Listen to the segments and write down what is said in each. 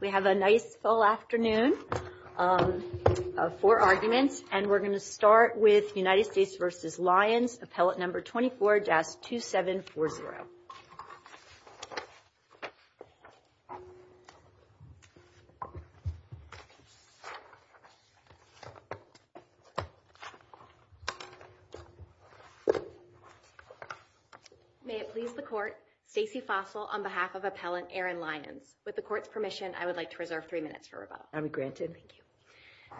We have a nice full afternoon of four arguments, and we're going to start with United States versus Lyons, appellate number 24-2740. May it please the court, Stacey Fossil on behalf of appellant Erin Lyons. With the court's permission, I would like to reserve three minutes for rebuttal. I'm granted. Thank you.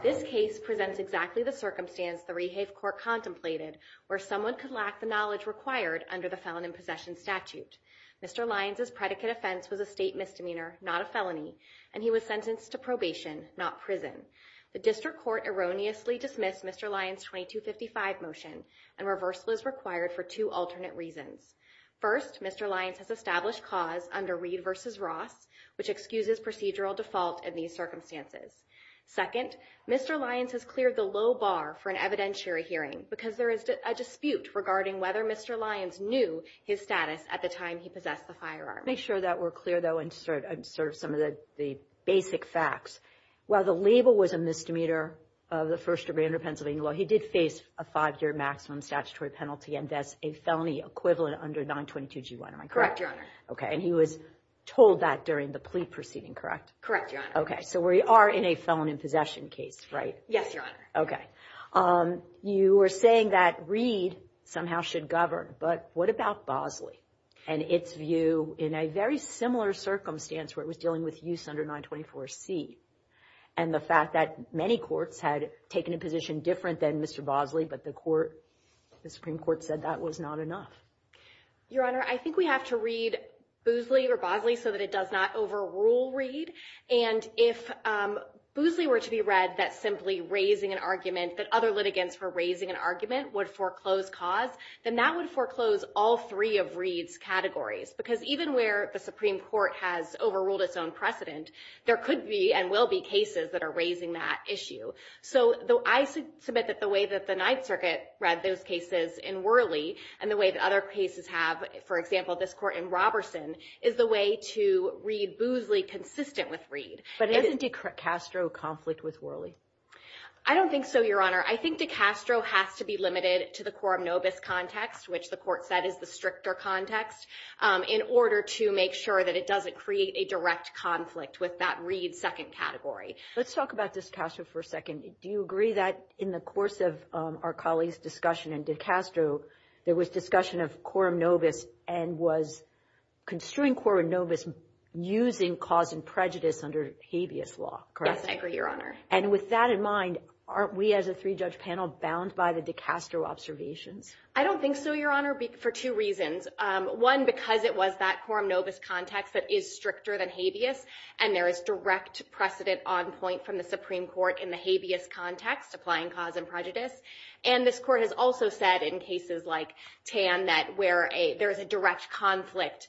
This case presents exactly the circumstance the Rehave Court contemplated where someone could lack the knowledge required under the felon in possession statute. Mr. Lyons' predicate offense was a state misdemeanor, not a felony, and he was sentenced to probation, not prison. The district court erroneously dismissed Mr. Lyons' 2255 motion, and reversal is required for two alternate reasons. First, Mr. Lyons has established cause under Reed versus Ross, which excuses procedural default in these circumstances. Second, Mr. Lyons has cleared the low bar for an evidentiary hearing, because there is a dispute regarding whether Mr. Lyons knew his status at the time he possessed the firearm. Make sure that we're clear, though, and sort of some of the basic facts. While the label was a misdemeanor of the first degree under Pennsylvania law, he did face a five-year maximum statutory penalty, and that's a felony equivalent under 922G1, am I correct? Correct, Your Honor. And he was told that during the plea proceeding, correct? Correct, Your Honor. So we are in a felon in possession case, right? Yes, Your Honor. You were saying that Reed somehow should govern, but what about Bosley and its view in a very similar circumstance where it was dealing with use under 924C, and the fact that many courts had taken a position different than Mr. Bosley, but the Supreme Court said that was not enough? Your Honor, I think we have to read Bosley so that it does not overrule Reed. And if Bosley were to be read that simply raising an argument that other litigants were raising an argument would foreclose cause, then that would foreclose all three of Reed's categories. Because even where the Supreme Court has overruled its own precedent, there could be and will be cases that are raising that issue. So I submit that the way that the Ninth Circuit read those cases in Worley, and the way that other cases have, for example, this court in Roberson, is the way to read Bosley consistent with Reed. But isn't DeCastro conflict with Worley? I don't think so, Your Honor. I think DeCastro has to be limited to the quorum nobis context, which the court said is the stricter context, in order to make sure that it doesn't create a direct conflict with that Reed second category. Let's talk about DeCastro for a second. Do you agree that in the course of our colleagues' discussion in DeCastro, there was discussion of quorum nobis and was construing quorum nobis using cause and prejudice under habeas law, correct? Yes, I agree, Your Honor. And with that in mind, aren't we as a three-judge panel bound by the DeCastro observations? I don't think so, Your Honor, for two reasons. One, because it was that quorum nobis context that is stricter than habeas. And there is direct precedent on point from the Supreme Court in the habeas context, applying cause and prejudice. And this court has also said, in cases like Tan, that where there is a direct conflict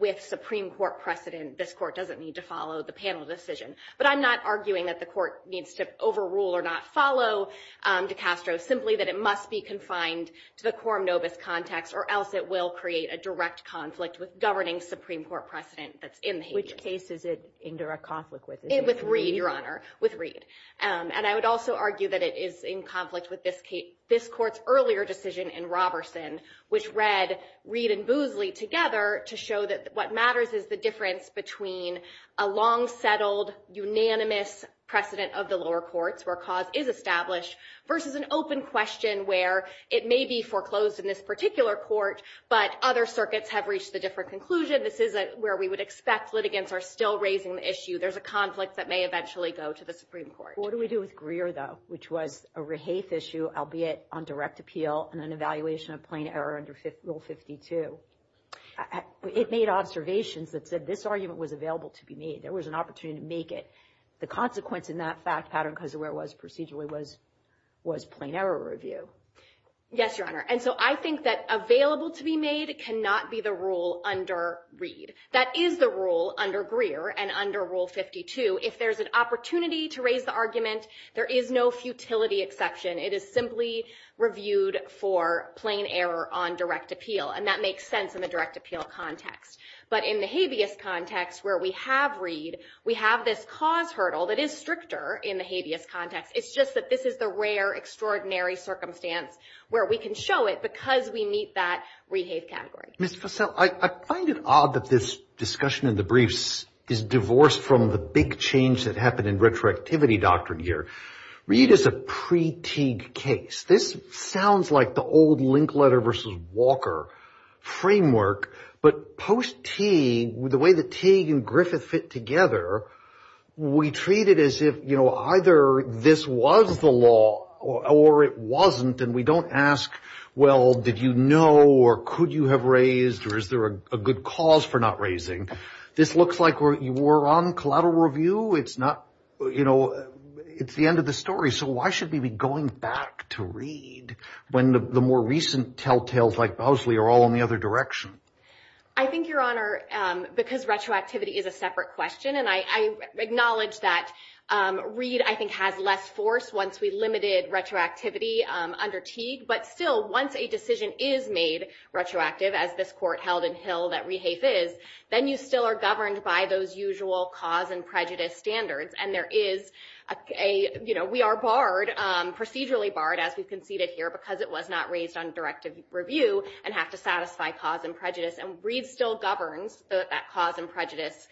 with Supreme Court precedent, this court doesn't need to follow the panel decision. But I'm not arguing that the court needs to overrule or not follow DeCastro, simply that it must be confined to the quorum nobis context, or else it will create a direct conflict with governing Supreme Court precedent that's in the habeas. Which case is it in direct conflict with? With Reed, Your Honor. With Reed. And I would also argue that it is in conflict with this court's earlier decision in Roberson, which read Reed and Boozley together to show that what matters is the difference between a long-settled, unanimous precedent of the lower courts, where cause is established, versus an open question where it may be foreclosed in this particular court, but other circuits have reached a different conclusion. This isn't where we would expect litigants are still raising the issue. There's a conflict that may eventually go to the Supreme Court. What do we do with Greer, though, which was a rehafe issue, albeit on direct appeal, and an evaluation of plain error under Rule 52? It made observations that said this argument was available to be made. There was an opportunity to make it. The consequence in that fact pattern, because of where it was procedurally, was plain error review. Yes, Your Honor. And so I think that available to be made cannot be the rule under Reed. That is the rule under Greer and under Rule 52. If there's an opportunity to raise the argument, there is no futility exception. It is simply reviewed for plain error on direct appeal. And that makes sense in the direct appeal context. But in the habeas context, where we have Reed, we have this cause hurdle that is stricter in the habeas context. It's just that this is the rare, extraordinary circumstance where we can show it because we meet that rehafe category. Ms. Fussell, I find it odd that this discussion in the briefs is divorced from the big change that happened in retroactivity doctrine here. Reed is a pre-Teague case. This sounds like the old Linkletter versus Walker framework. But post-Teague, the way that Teague and Griffith fit together, we treat it as if either this was the law or it wasn't. And we don't ask, well, did you know or could you have raised or is there a good cause for not raising? This looks like we're on collateral review. It's not, you know, it's the end of the story. So why should we be going back to Reed when the more recent telltales like Bosley are all in the other direction? I think, Your Honor, because retroactivity is a separate question. And I acknowledge that Reed, I think, has less force once we limited retroactivity under Teague. But still, once a decision is made retroactive, as this court held in Hill that rehafe is, then you still are governed by those usual cause and prejudice standards. And there is a, you know, we are barred, procedurally barred, as we conceded here, because it was not raised on directive review and have to satisfy cause and prejudice. And Reed still governs that cause and prejudice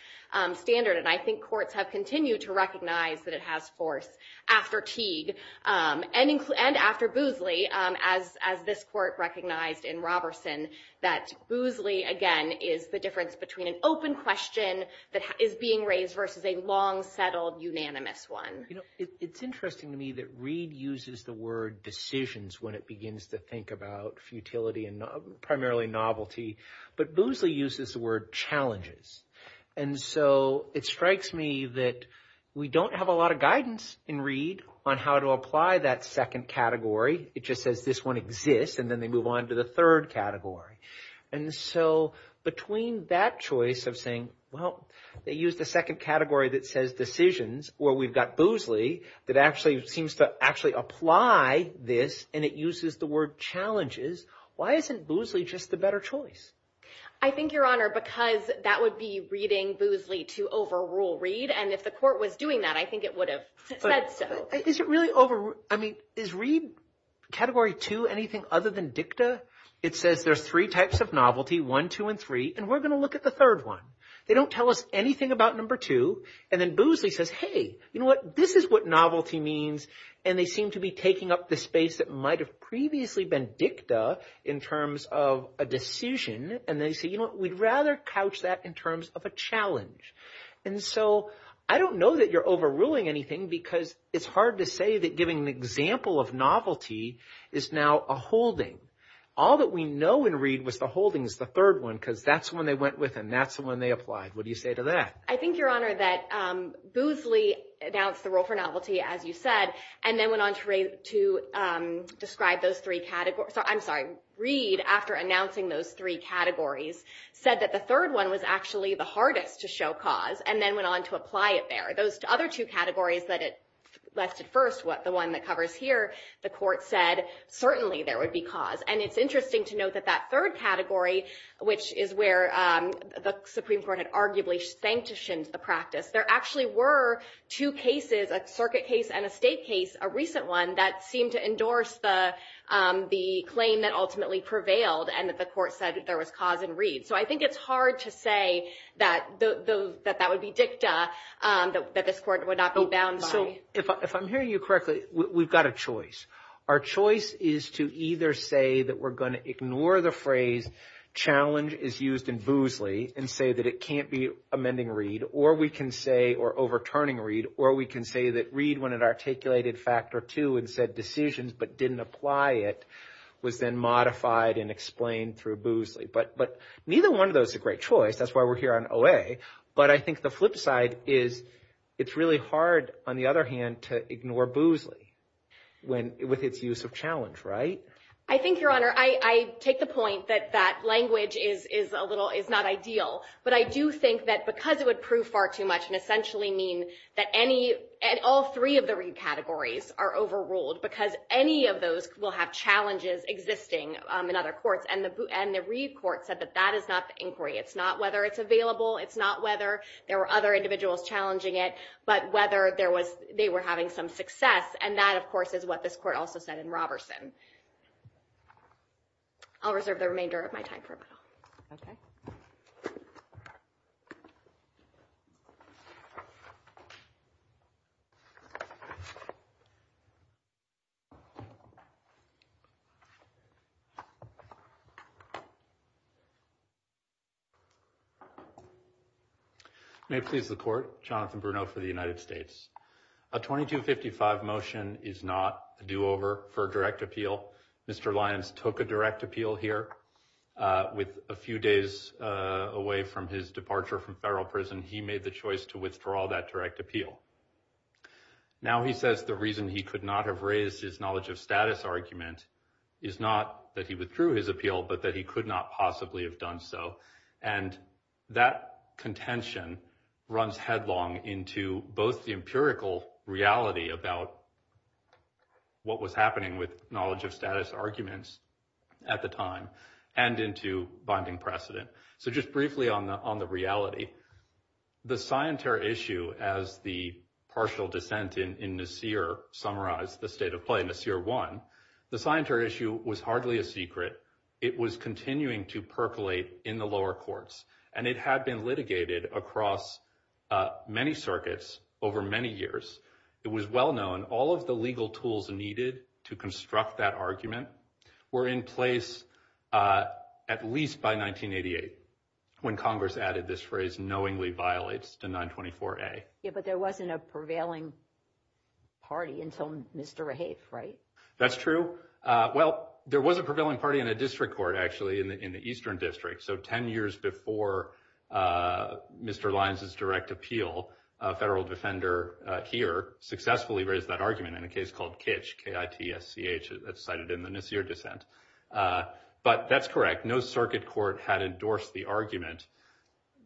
standard. And I think courts have continued to recognize that it has force after Teague and after Bosley, as this court recognized in Roberson, that Bosley, again, is the difference between an open question that is being raised versus a long, settled, unanimous one. You know, it's interesting to me that Reed uses the word decisions when it begins to think about futility and primarily novelty. But Bosley uses the word challenges. And so it strikes me that we don't have a lot of guidance in Reed on how to apply that second category. It just says this one exists. And then they move on to the third category. And so between that choice of saying, well, they use the second category that says decisions, where we've got Bosley, that actually seems to actually apply this. And it uses the word challenges. Why isn't Bosley just the better choice? I think, Your Honor, because that would be reading Bosley to overrule Reed. And if the court was doing that, I think it would have said so. Is it really over? I mean, is Reed category two anything other than dicta? It says there's three types of novelty, one, two, and three. And we're going to look at the third one. They don't tell us anything about number two. And then Bosley says, hey, you know what? This is what novelty means. And they seem to be taking up the space that might have previously been dicta in terms of a decision. And they say, we'd rather couch that in terms of a challenge. And so I don't know that you're overruling anything, because it's hard to say that giving an example of novelty is now a holding. All that we know in Reed was the holding is the third one, because that's the one they went with, and that's the one they applied. What do you say to that? I think, Your Honor, that Bosley announced the rule for novelty, as you said, and then went on to describe those three categories. I'm sorry. Reed, after announcing those three categories, said that the third one was actually the hardest to show cause, and then went on to apply it there. Those other two categories that it listed first, the one that covers here, the court said, certainly there would be cause. And it's interesting to note that that third category, which is where the Supreme Court had arguably sanctioned the practice, there actually were two cases, a circuit case and a state case, a recent one, that seemed to endorse the claim that ultimately prevailed, and that the court said there was cause in Reed. So I think it's hard to say that that would be dicta, that this court would not be bound by. If I'm hearing you correctly, we've got a choice. Our choice is to either say that we're going to ignore the phrase, challenge is used in Bosley, and say that it can't be amending Reed, or we can say, or overturning Reed, or we can say that Reed, when it articulated factor two and said decisions but didn't apply it, was then modified and explained through Bosley. But neither one of those is a great choice. That's why we're here on OA. But I think the flip side is, it's really hard, on the other hand, to ignore Bosley with its use of challenge, right? I think, Your Honor, I take the point that that language is not ideal. But I do think that because it would prove far too much and essentially mean that all three of the Reed categories are overruled, because any of those will have challenges existing in other courts. And the Reed court said that that is not the inquiry. It's not whether it's available. It's not whether there were other individuals challenging it, but whether they were having some success. And that, of course, is what this court also said in Roberson. I'll reserve the remainder of my time for a moment. OK. May it please the court. Jonathan Bruno for the United States. A 2255 motion is not a do-over for a direct appeal. Mr. Lyons took a direct appeal here. With a few days away from his departure from federal prison, he made the choice to withdraw that direct appeal. Now he says the reason he could not have raised his knowledge of status argument is not that he withdrew his appeal, but that he could not possibly have done so. And that contention runs headlong into both the empirical reality about what was happening with knowledge of status arguments at the time, and into binding precedent. So just briefly on the reality, the scienter issue, as the partial dissent in Nassir summarized the state of play, Nassir won, the scienter issue was hardly a secret. It was continuing to percolate in the lower courts. And it had been litigated across many circuits over many years. It was well known all of the legal tools needed to construct that argument were in place at least by 1988, when Congress added this phrase, knowingly violates the 924-A. Yeah, but there wasn't a prevailing party until Mr. Rahif, right? That's true. Well, there was a prevailing party in a district court, actually, in the Eastern District. So 10 years before Mr. Lyons' direct appeal, a federal defender here successfully raised that argument in a case called Kitsch, K-I-T-S-C-H. That's cited in the Nassir dissent. But that's correct. No circuit court had endorsed the argument.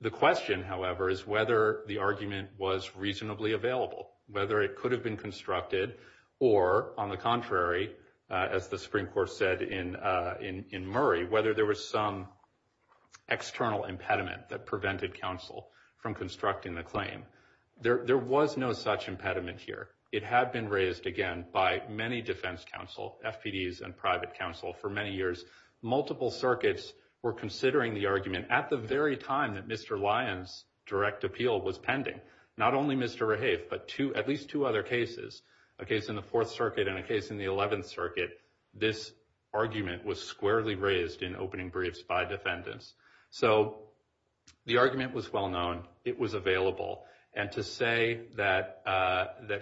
The question, however, is whether the argument was reasonably available, whether it could have been constructed, or on the contrary, as the Supreme Court said in Murray, whether there was some external impediment that prevented counsel from constructing the claim. There was no such impediment here. It had been raised, again, by many defense counsel, FPDs, and private counsel for many years. Multiple circuits were considering the argument at the very time that Mr. Lyons' direct appeal was pending. Not only Mr. Rahaf, but at least two other cases, a case in the Fourth Circuit and a case in the Eleventh Circuit, this argument was squarely raised in opening briefs by defendants. So the argument was well known. It was available. And to say that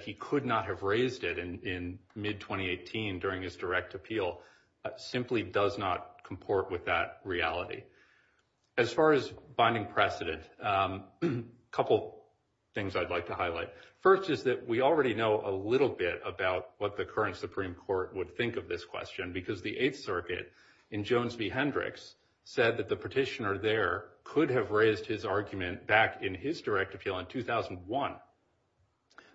he could not have raised it in mid-2018 during his direct appeal simply does not comport with that reality. As far as binding precedent, a couple things I'd like to highlight. First is that we already know a little bit about what the current Supreme Court would think of this question, because the Eighth Circuit in Jones v. Hendricks said that the petitioner there could have raised his argument back in his direct appeal in 2001.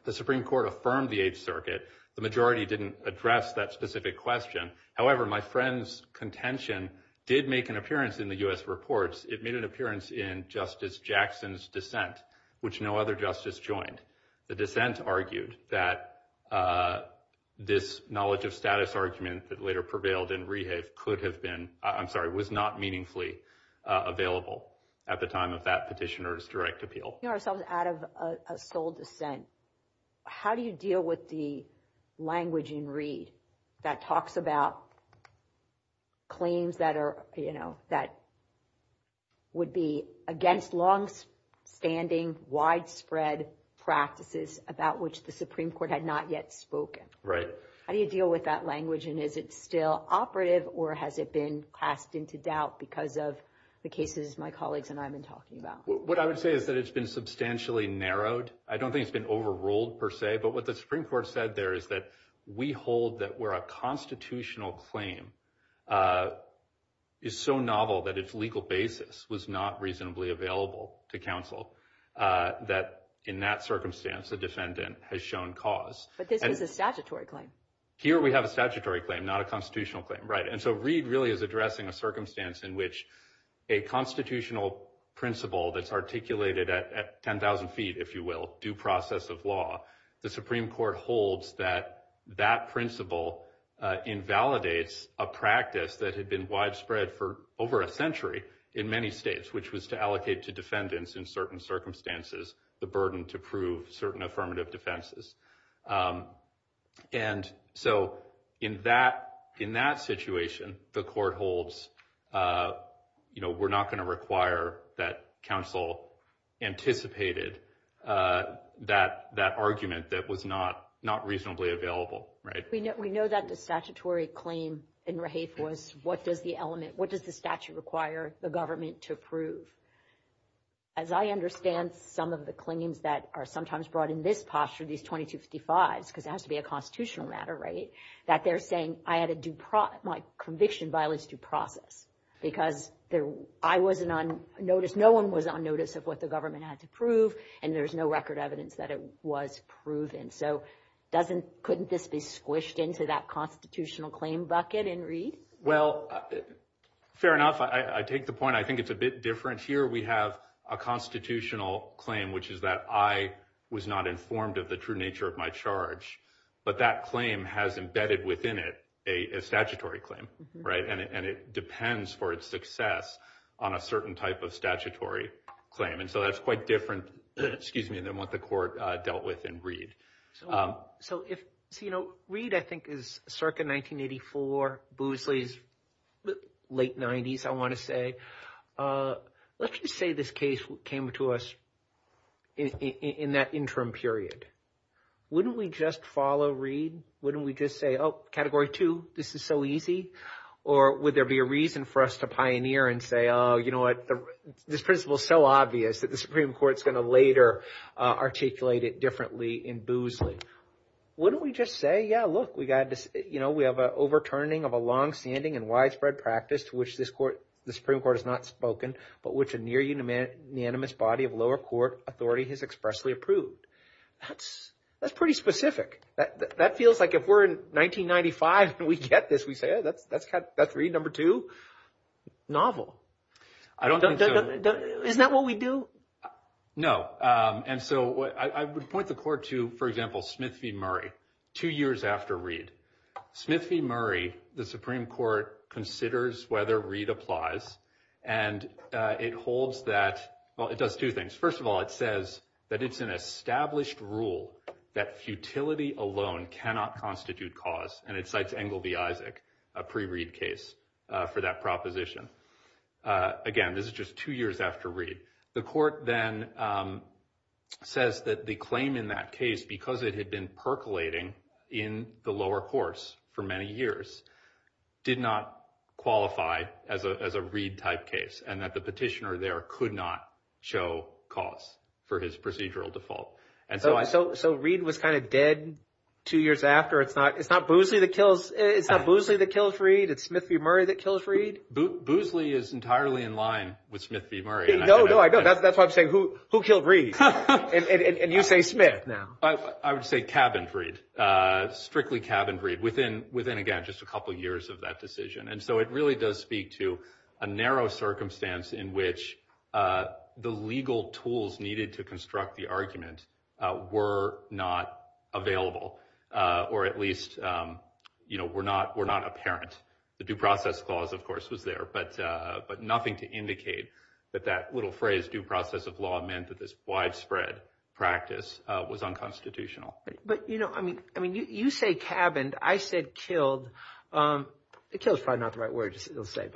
The Supreme Court affirmed the Eighth Circuit. The majority didn't address that specific question. However, my friend's contention did make an appearance in the US reports. It made an appearance in Justice Jackson's dissent, which no other justice joined. The dissent argued that this knowledge of status argument that later prevailed in Rahaf could have been, I'm sorry, was not meaningfully available at the time of that petitioner's direct appeal. We know ourselves out of a sole dissent. How do you deal with the language in Reed that talks about claims that would be against longstanding widespread practices about which the Supreme Court had not yet spoken? Right. How do you deal with that language? And is it still operative, or has it been passed into doubt because of the cases my colleagues and I have been talking about? What I would say is that it's been substantially narrowed. I don't think it's been overruled, per se. But what the Supreme Court said there is that we hold that where a constitutional claim is so novel that its legal basis was not reasonably available to counsel, that in that circumstance, the defendant has shown cause. But this was a statutory claim. Here we have a statutory claim, not a constitutional claim. And so Reed really is addressing a circumstance in which a constitutional principle that's articulated at 10,000 feet, if you will, due process of law, the Supreme Court holds that that principle invalidates a practice that had been widespread for over a century in many states, which was to allocate to defendants in certain circumstances the burden to prove certain affirmative defenses. And so in that situation, the court holds we're not going to require that counsel anticipated that argument that was not reasonably available. We know that the statutory claim in Raheif was what does the element, what does the statute require the government to prove? As I understand some of the claims that are sometimes brought in this posture, these 2255s, because it has to be a constitutional matter, that they're saying I had to do my conviction violates due process. Because I wasn't on notice, no one was on notice of what the government had to prove. And there's no record evidence that it was proven. So couldn't this be squished into that constitutional claim bucket in Reed? Well, fair enough. I take the point. I think it's a bit different. Here we have a constitutional claim, which is that I was not informed of the true nature of my charge. But that claim has embedded within it a statutory claim. And it depends for its success on a certain type of statutory claim. And so that's quite different than what the court dealt with in Reed. So Reed, I think, is circa 1984, Boozley's late 90s, I want to say. Let's just say this case came to us in that interim period. Wouldn't we just follow Reed? Wouldn't we just say, oh, category two, this is so easy? Or would there be a reason for us to pioneer and say, you know what, this principle is so obvious that the Supreme Court's going to later articulate it differently in Boozley? Wouldn't we just say, yeah, look, we have an overturning of a longstanding and widespread practice to which the Supreme Court has not spoken, but which a near unanimous body of lower court authority has expressly approved? That's pretty specific. That feels like if we're in 1995 and we get this, we say, oh, that's Reed, number two. Novel. Isn't that what we do? No. And so I would point the court to, for example, Smith v. Murray, two years after Reed. Smith v. Murray, the Supreme Court considers whether Reed applies. And it holds that, well, it does two things. First of all, it says that it's an established rule that futility alone cannot constitute cause. And it cites Engleby Isaac, a pre-Reed case, for that proposition. Again, this is just two years after Reed. The court then says that the claim in that case, because it had been percolating in the lower course for many years, did not qualify as a Reed-type case, and that the petitioner there could not show cause for his procedural default. And so Reed was kind of dead two years after. It's not Boozley that kills Reed? It's Smith v. Murray that kills Reed? Boozley is entirely in line with Smith v. Murray. No, no, I know. That's why I'm saying, who killed Reed? And you say Smith now. I would say cabin Freed, strictly cabin Freed, within, again, just a couple of years of that decision. And so it really does speak to a narrow circumstance in which the legal tools needed to construct the argument were not available, or at least were not apparent. The due process clause, of course, was there, but nothing to indicate that that little phrase, due process of law, meant that this widespread practice was unconstitutional. But you say cabined. I said killed. Killed's probably not the right word, you'll say.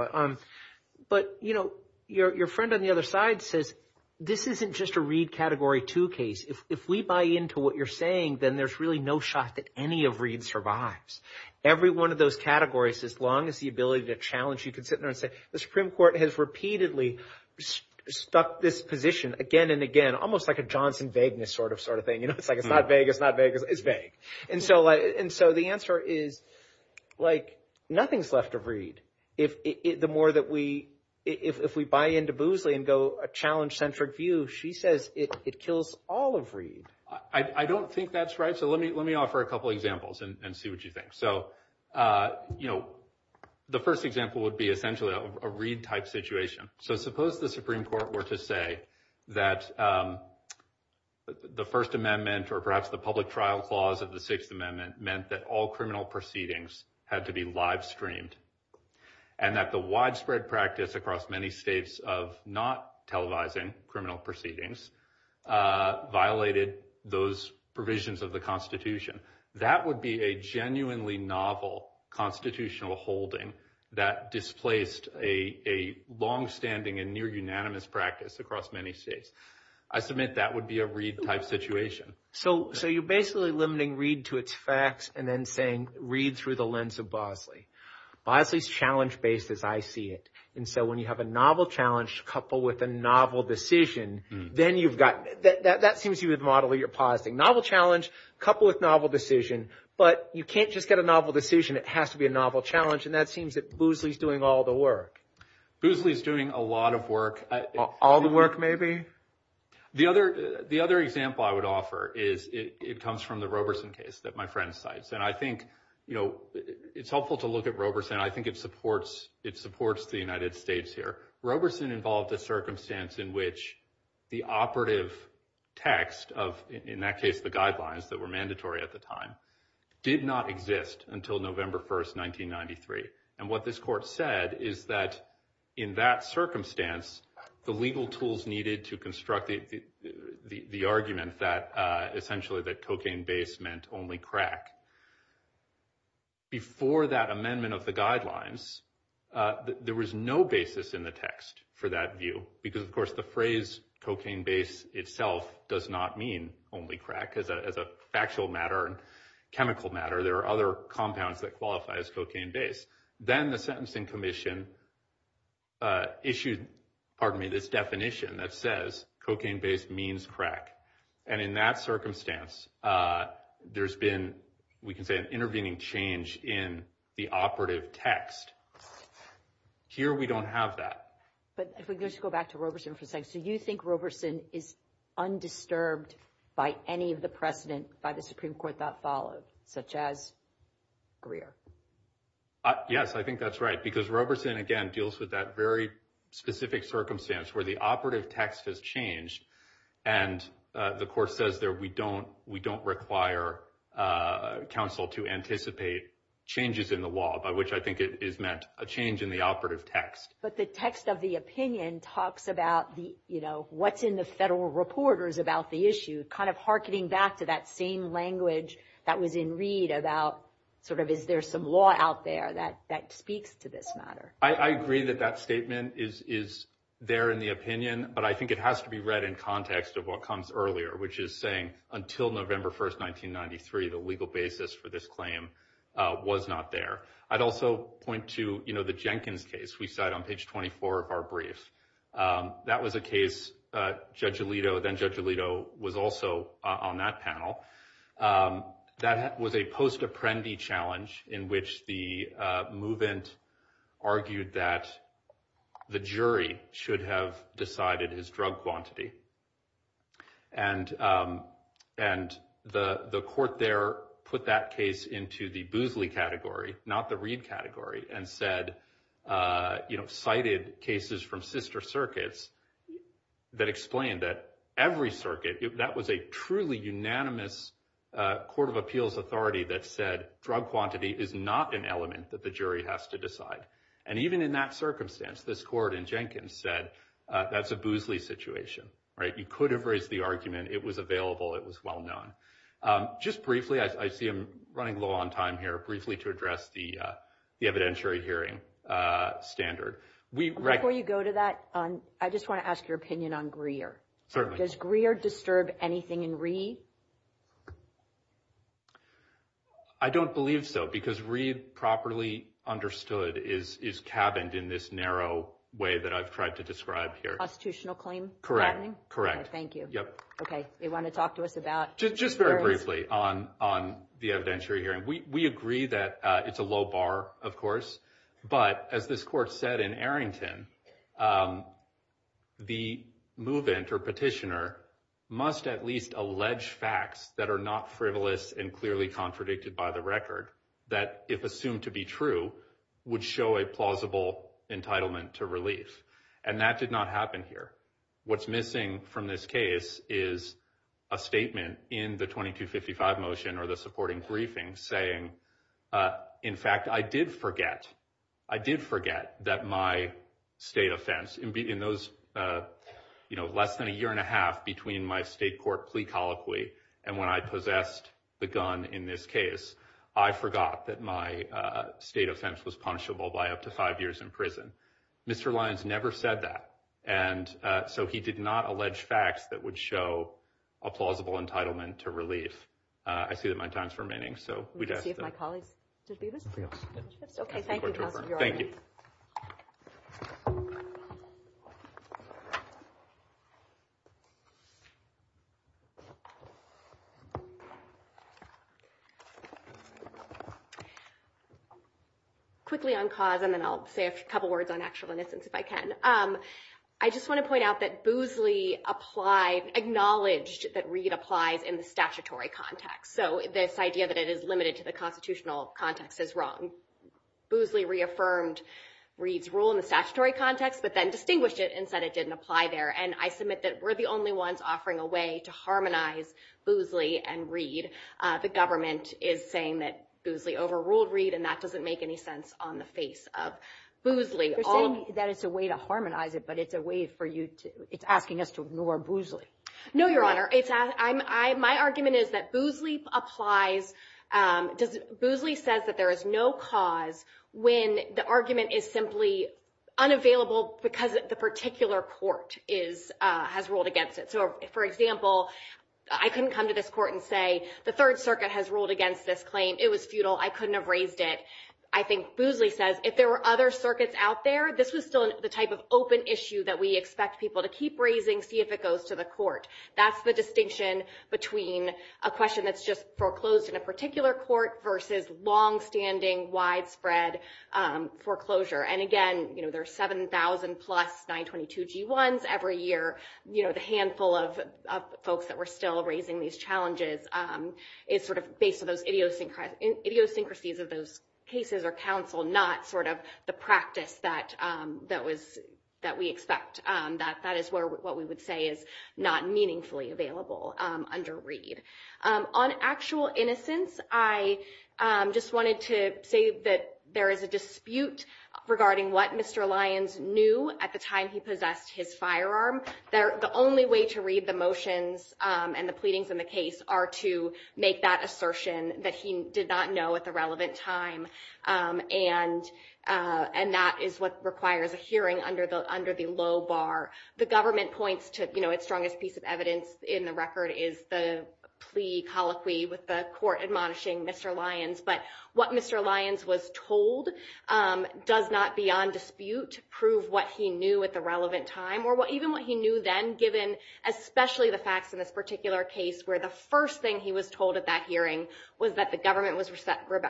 But your friend on the other side says, this isn't just a Reed Category 2 case. If we buy into what you're saying, then there's really no shot that any of Reed survives. Every one of those categories, as long as the ability to challenge, you could sit there and say, the Supreme Court has repeatedly stuck this position again and again, almost like a Johnson Vagueness sort of thing. It's like, it's not vague, it's not vague, it's vague. And so the answer is, nothing's left of Reed. The more that we, if we buy into Boozley and go a challenge-centric view, she says it kills all of Reed. I don't think that's right. So let me offer a couple examples and see what you think. So, you know, the first example would be essentially a Reed-type situation. So suppose the Supreme Court were to say that the First Amendment, or perhaps the Public Trial Clause of the Sixth Amendment, meant that all criminal proceedings had to be live-streamed. And that the widespread practice across many states of not televising criminal proceedings violated those provisions of the Constitution. That would be a genuinely novel constitutional holding that displaced a longstanding and near-unanimous practice across many states. I submit that would be a Reed-type situation. So you're basically limiting Reed to its facts and then saying Reed through the lens of Boozley. Boozley's challenge-based as I see it. And so when you have a novel challenge coupled with a novel decision, then you've got, that seems to be the model you're positing. Novel challenge coupled with novel decision, but you can't just get a novel decision. It has to be a novel challenge. And that seems that Boozley's doing all the work. Boozley's doing a lot of work. All the work, maybe? The other example I would offer is, it comes from the Roberson case that my friend cites. And I think, you know, it's helpful to look at Roberson. I think it supports the United States here. Roberson involved a circumstance in which the operative text of, in that case, the guidelines that were mandatory at the time, did not exist until November 1st, 1993. And what this court said is that in that circumstance, the legal tools needed to construct the argument that essentially that cocaine base meant only crack. Before that amendment of the guidelines, there was no basis in the text for that view. Because of course, the phrase cocaine base itself does not mean only crack. As a factual matter and chemical matter, there are other compounds that qualify as cocaine base. Then the Sentencing Commission issued, pardon me, this definition that says, cocaine base means crack. And in that circumstance, there's been, we can say an intervening change in the operative text. Here, we don't have that. But if we could just go back to Roberson for a second. So you think Roberson is undisturbed by any of the precedent by the Supreme Court that followed, such as Greer? Yes, I think that's right. Because Roberson, again, deals with that very specific circumstance where the operative text has changed. And the court says there, we don't require counsel to anticipate changes in the law, by which I think it is meant a change in the operative text. But the text of the opinion talks about what's in the federal reporters about the issue, kind of hearkening back to that same language that was in Reed about sort of, is there some law out there that speaks to this matter? I agree that that statement is there in the opinion, but I think it has to be read in context of what comes earlier, which is saying, until November 1st, 1993, the legal basis for this claim was not there. I'd also point to the Jenkins case we cite on page 24 of our brief. That was a case, Judge Alito, then Judge Alito was also on that panel. That was a post-apprendee challenge in which the move-in argued that the jury should have decided his drug quantity. And the court there put that case into the Boosley category, not the Reed category, and cited cases from sister circuits that explained that every circuit, that was a truly unanimous court of appeals authority that said drug quantity is not an element that the jury has to decide. And even in that circumstance, this court in Jenkins said, that's a Boosley situation. You could have raised the argument, it was available, it was well-known. Just briefly, I see I'm running low on time here, briefly to address the evidentiary hearing standard. Before you go to that, I just want to ask your opinion on Greer. Certainly. Does Greer disturb anything in Reed? I don't believe so, because Reed, properly understood, is cabined in this narrow way that I've tried to describe here. Constitutional claim? Correct, correct. Thank you. Okay, you want to talk to us about? Just very briefly on the evidentiary hearing. We agree that it's a low bar, of course, but as this court said in Arrington, the move-in or petitioner must at least allege facts that are not frivolous and clearly contradicted by the record that, if assumed to be true, would show a plausible entitlement to relief. And that did not happen here. What's missing from this case is a statement in the 2255 motion, or the supporting briefing, saying, in fact, I did forget. I did forget that my state offense, in those less than a year and a half between my state court plea colloquy and when I possessed the gun in this case, I forgot that my state offense was punishable by up to five years in prison. Mr. Lyons never said that, and so he did not allege facts that would show a plausible entitlement to relief. I see that my time's remaining, so we'd ask that. Let me see if my colleagues did leave us. Okay, thank you, counsel, you're on. Thank you. Quickly on cause, and then I'll say a couple words on actual innocence if I can. I just want to point out that Boozley acknowledged that Reed applies in the statutory context. So this idea that it is limited to the constitutional context is wrong. Boozley reaffirmed Reed's rule in the statutory context, but then distinguished it and said it didn't apply there. And I submit that we're the only ones offering a way to harmonize Boozley and Reed. The government is saying that Boozley overruled Reed, and that doesn't make any sense on the face of Boozley. You're saying that it's a way to harmonize it, but it's a way for you to, it's asking us to ignore Boozley. No, Your Honor, my argument is that Boozley applies, Boozley says that there is no cause when the argument is simply unavailable because the particular court has ruled against it. So for example, I can come to this court and say, the Third Circuit has ruled against this claim, it was futile, I couldn't have raised it. I think Boozley says if there were other circuits out there, this was still the type of open issue that we expect people to keep raising, see if it goes to the court. That's the distinction between a question that's just foreclosed in a particular court versus longstanding widespread foreclosure. And again, there are 7,000 plus 922 G1s every year, you know, the handful of folks that were still raising these challenges is sort of based on those idiosyncrasies of those cases or counsel, not sort of the practice that we expect, that that is what we would say is not meaningfully available under Reed. On actual innocence, I just wanted to say that there is a dispute regarding what Mr. Lyons knew at the time he possessed his firearm. The only way to read the motions and the pleadings in the case are to make that assertion that he did not know at the relevant time. And that is what requires a hearing under the low bar. The government points to, you know, its strongest piece of evidence in the record is the plea colloquy with the court admonishing Mr. Lyons, but what Mr. Lyons was told does not beyond dispute to prove what he knew at the relevant time or even what he knew then, given especially the facts in this particular case where the first thing he was told at that hearing was that the government was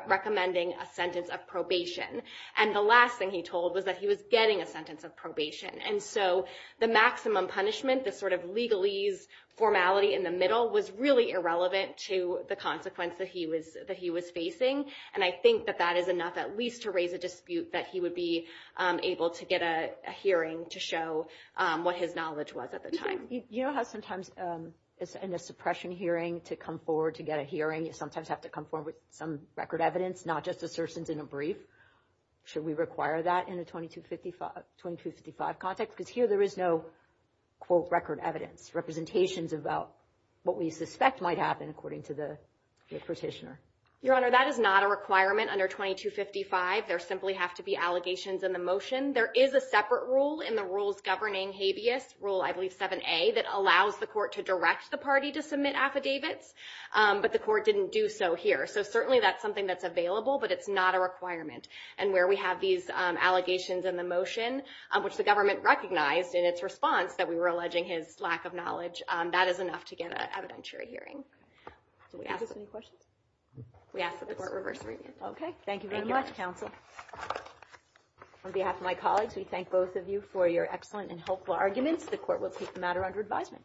recommending a sentence of probation. And the last thing he told was that he was getting a sentence of probation. And so the maximum punishment, the sort of legalese formality in the middle was really irrelevant to the consequence that he was facing. And I think that that is enough at least to raise a dispute that he would be able to get a hearing to show what his knowledge was at the time. You know how sometimes in a suppression hearing to come forward to get a hearing, you sometimes have to come forward with some record evidence, not just assertions in a brief. Should we require that in a 2255 context? Because here there is no quote record evidence, representations about what we suspect might happen according to the petitioner. Your Honor, that is not a requirement under 2255. There simply have to be allegations in the motion. There is a separate rule in the rules governing habeas, rule I believe 7A, that allows the court to direct the party to submit affidavits, but the court didn't do so here. So certainly that's something that's available, but it's not a requirement. And where we have these allegations in the motion, which the government recognized in its response that we were alleging his lack of knowledge, that is enough to get an evidentiary hearing. Do we have any questions? We ask that the court reverse review. Okay, thank you very much, counsel. On behalf of my colleagues, we thank both of you for your excellent and helpful arguments. The court will take the matter under advisement.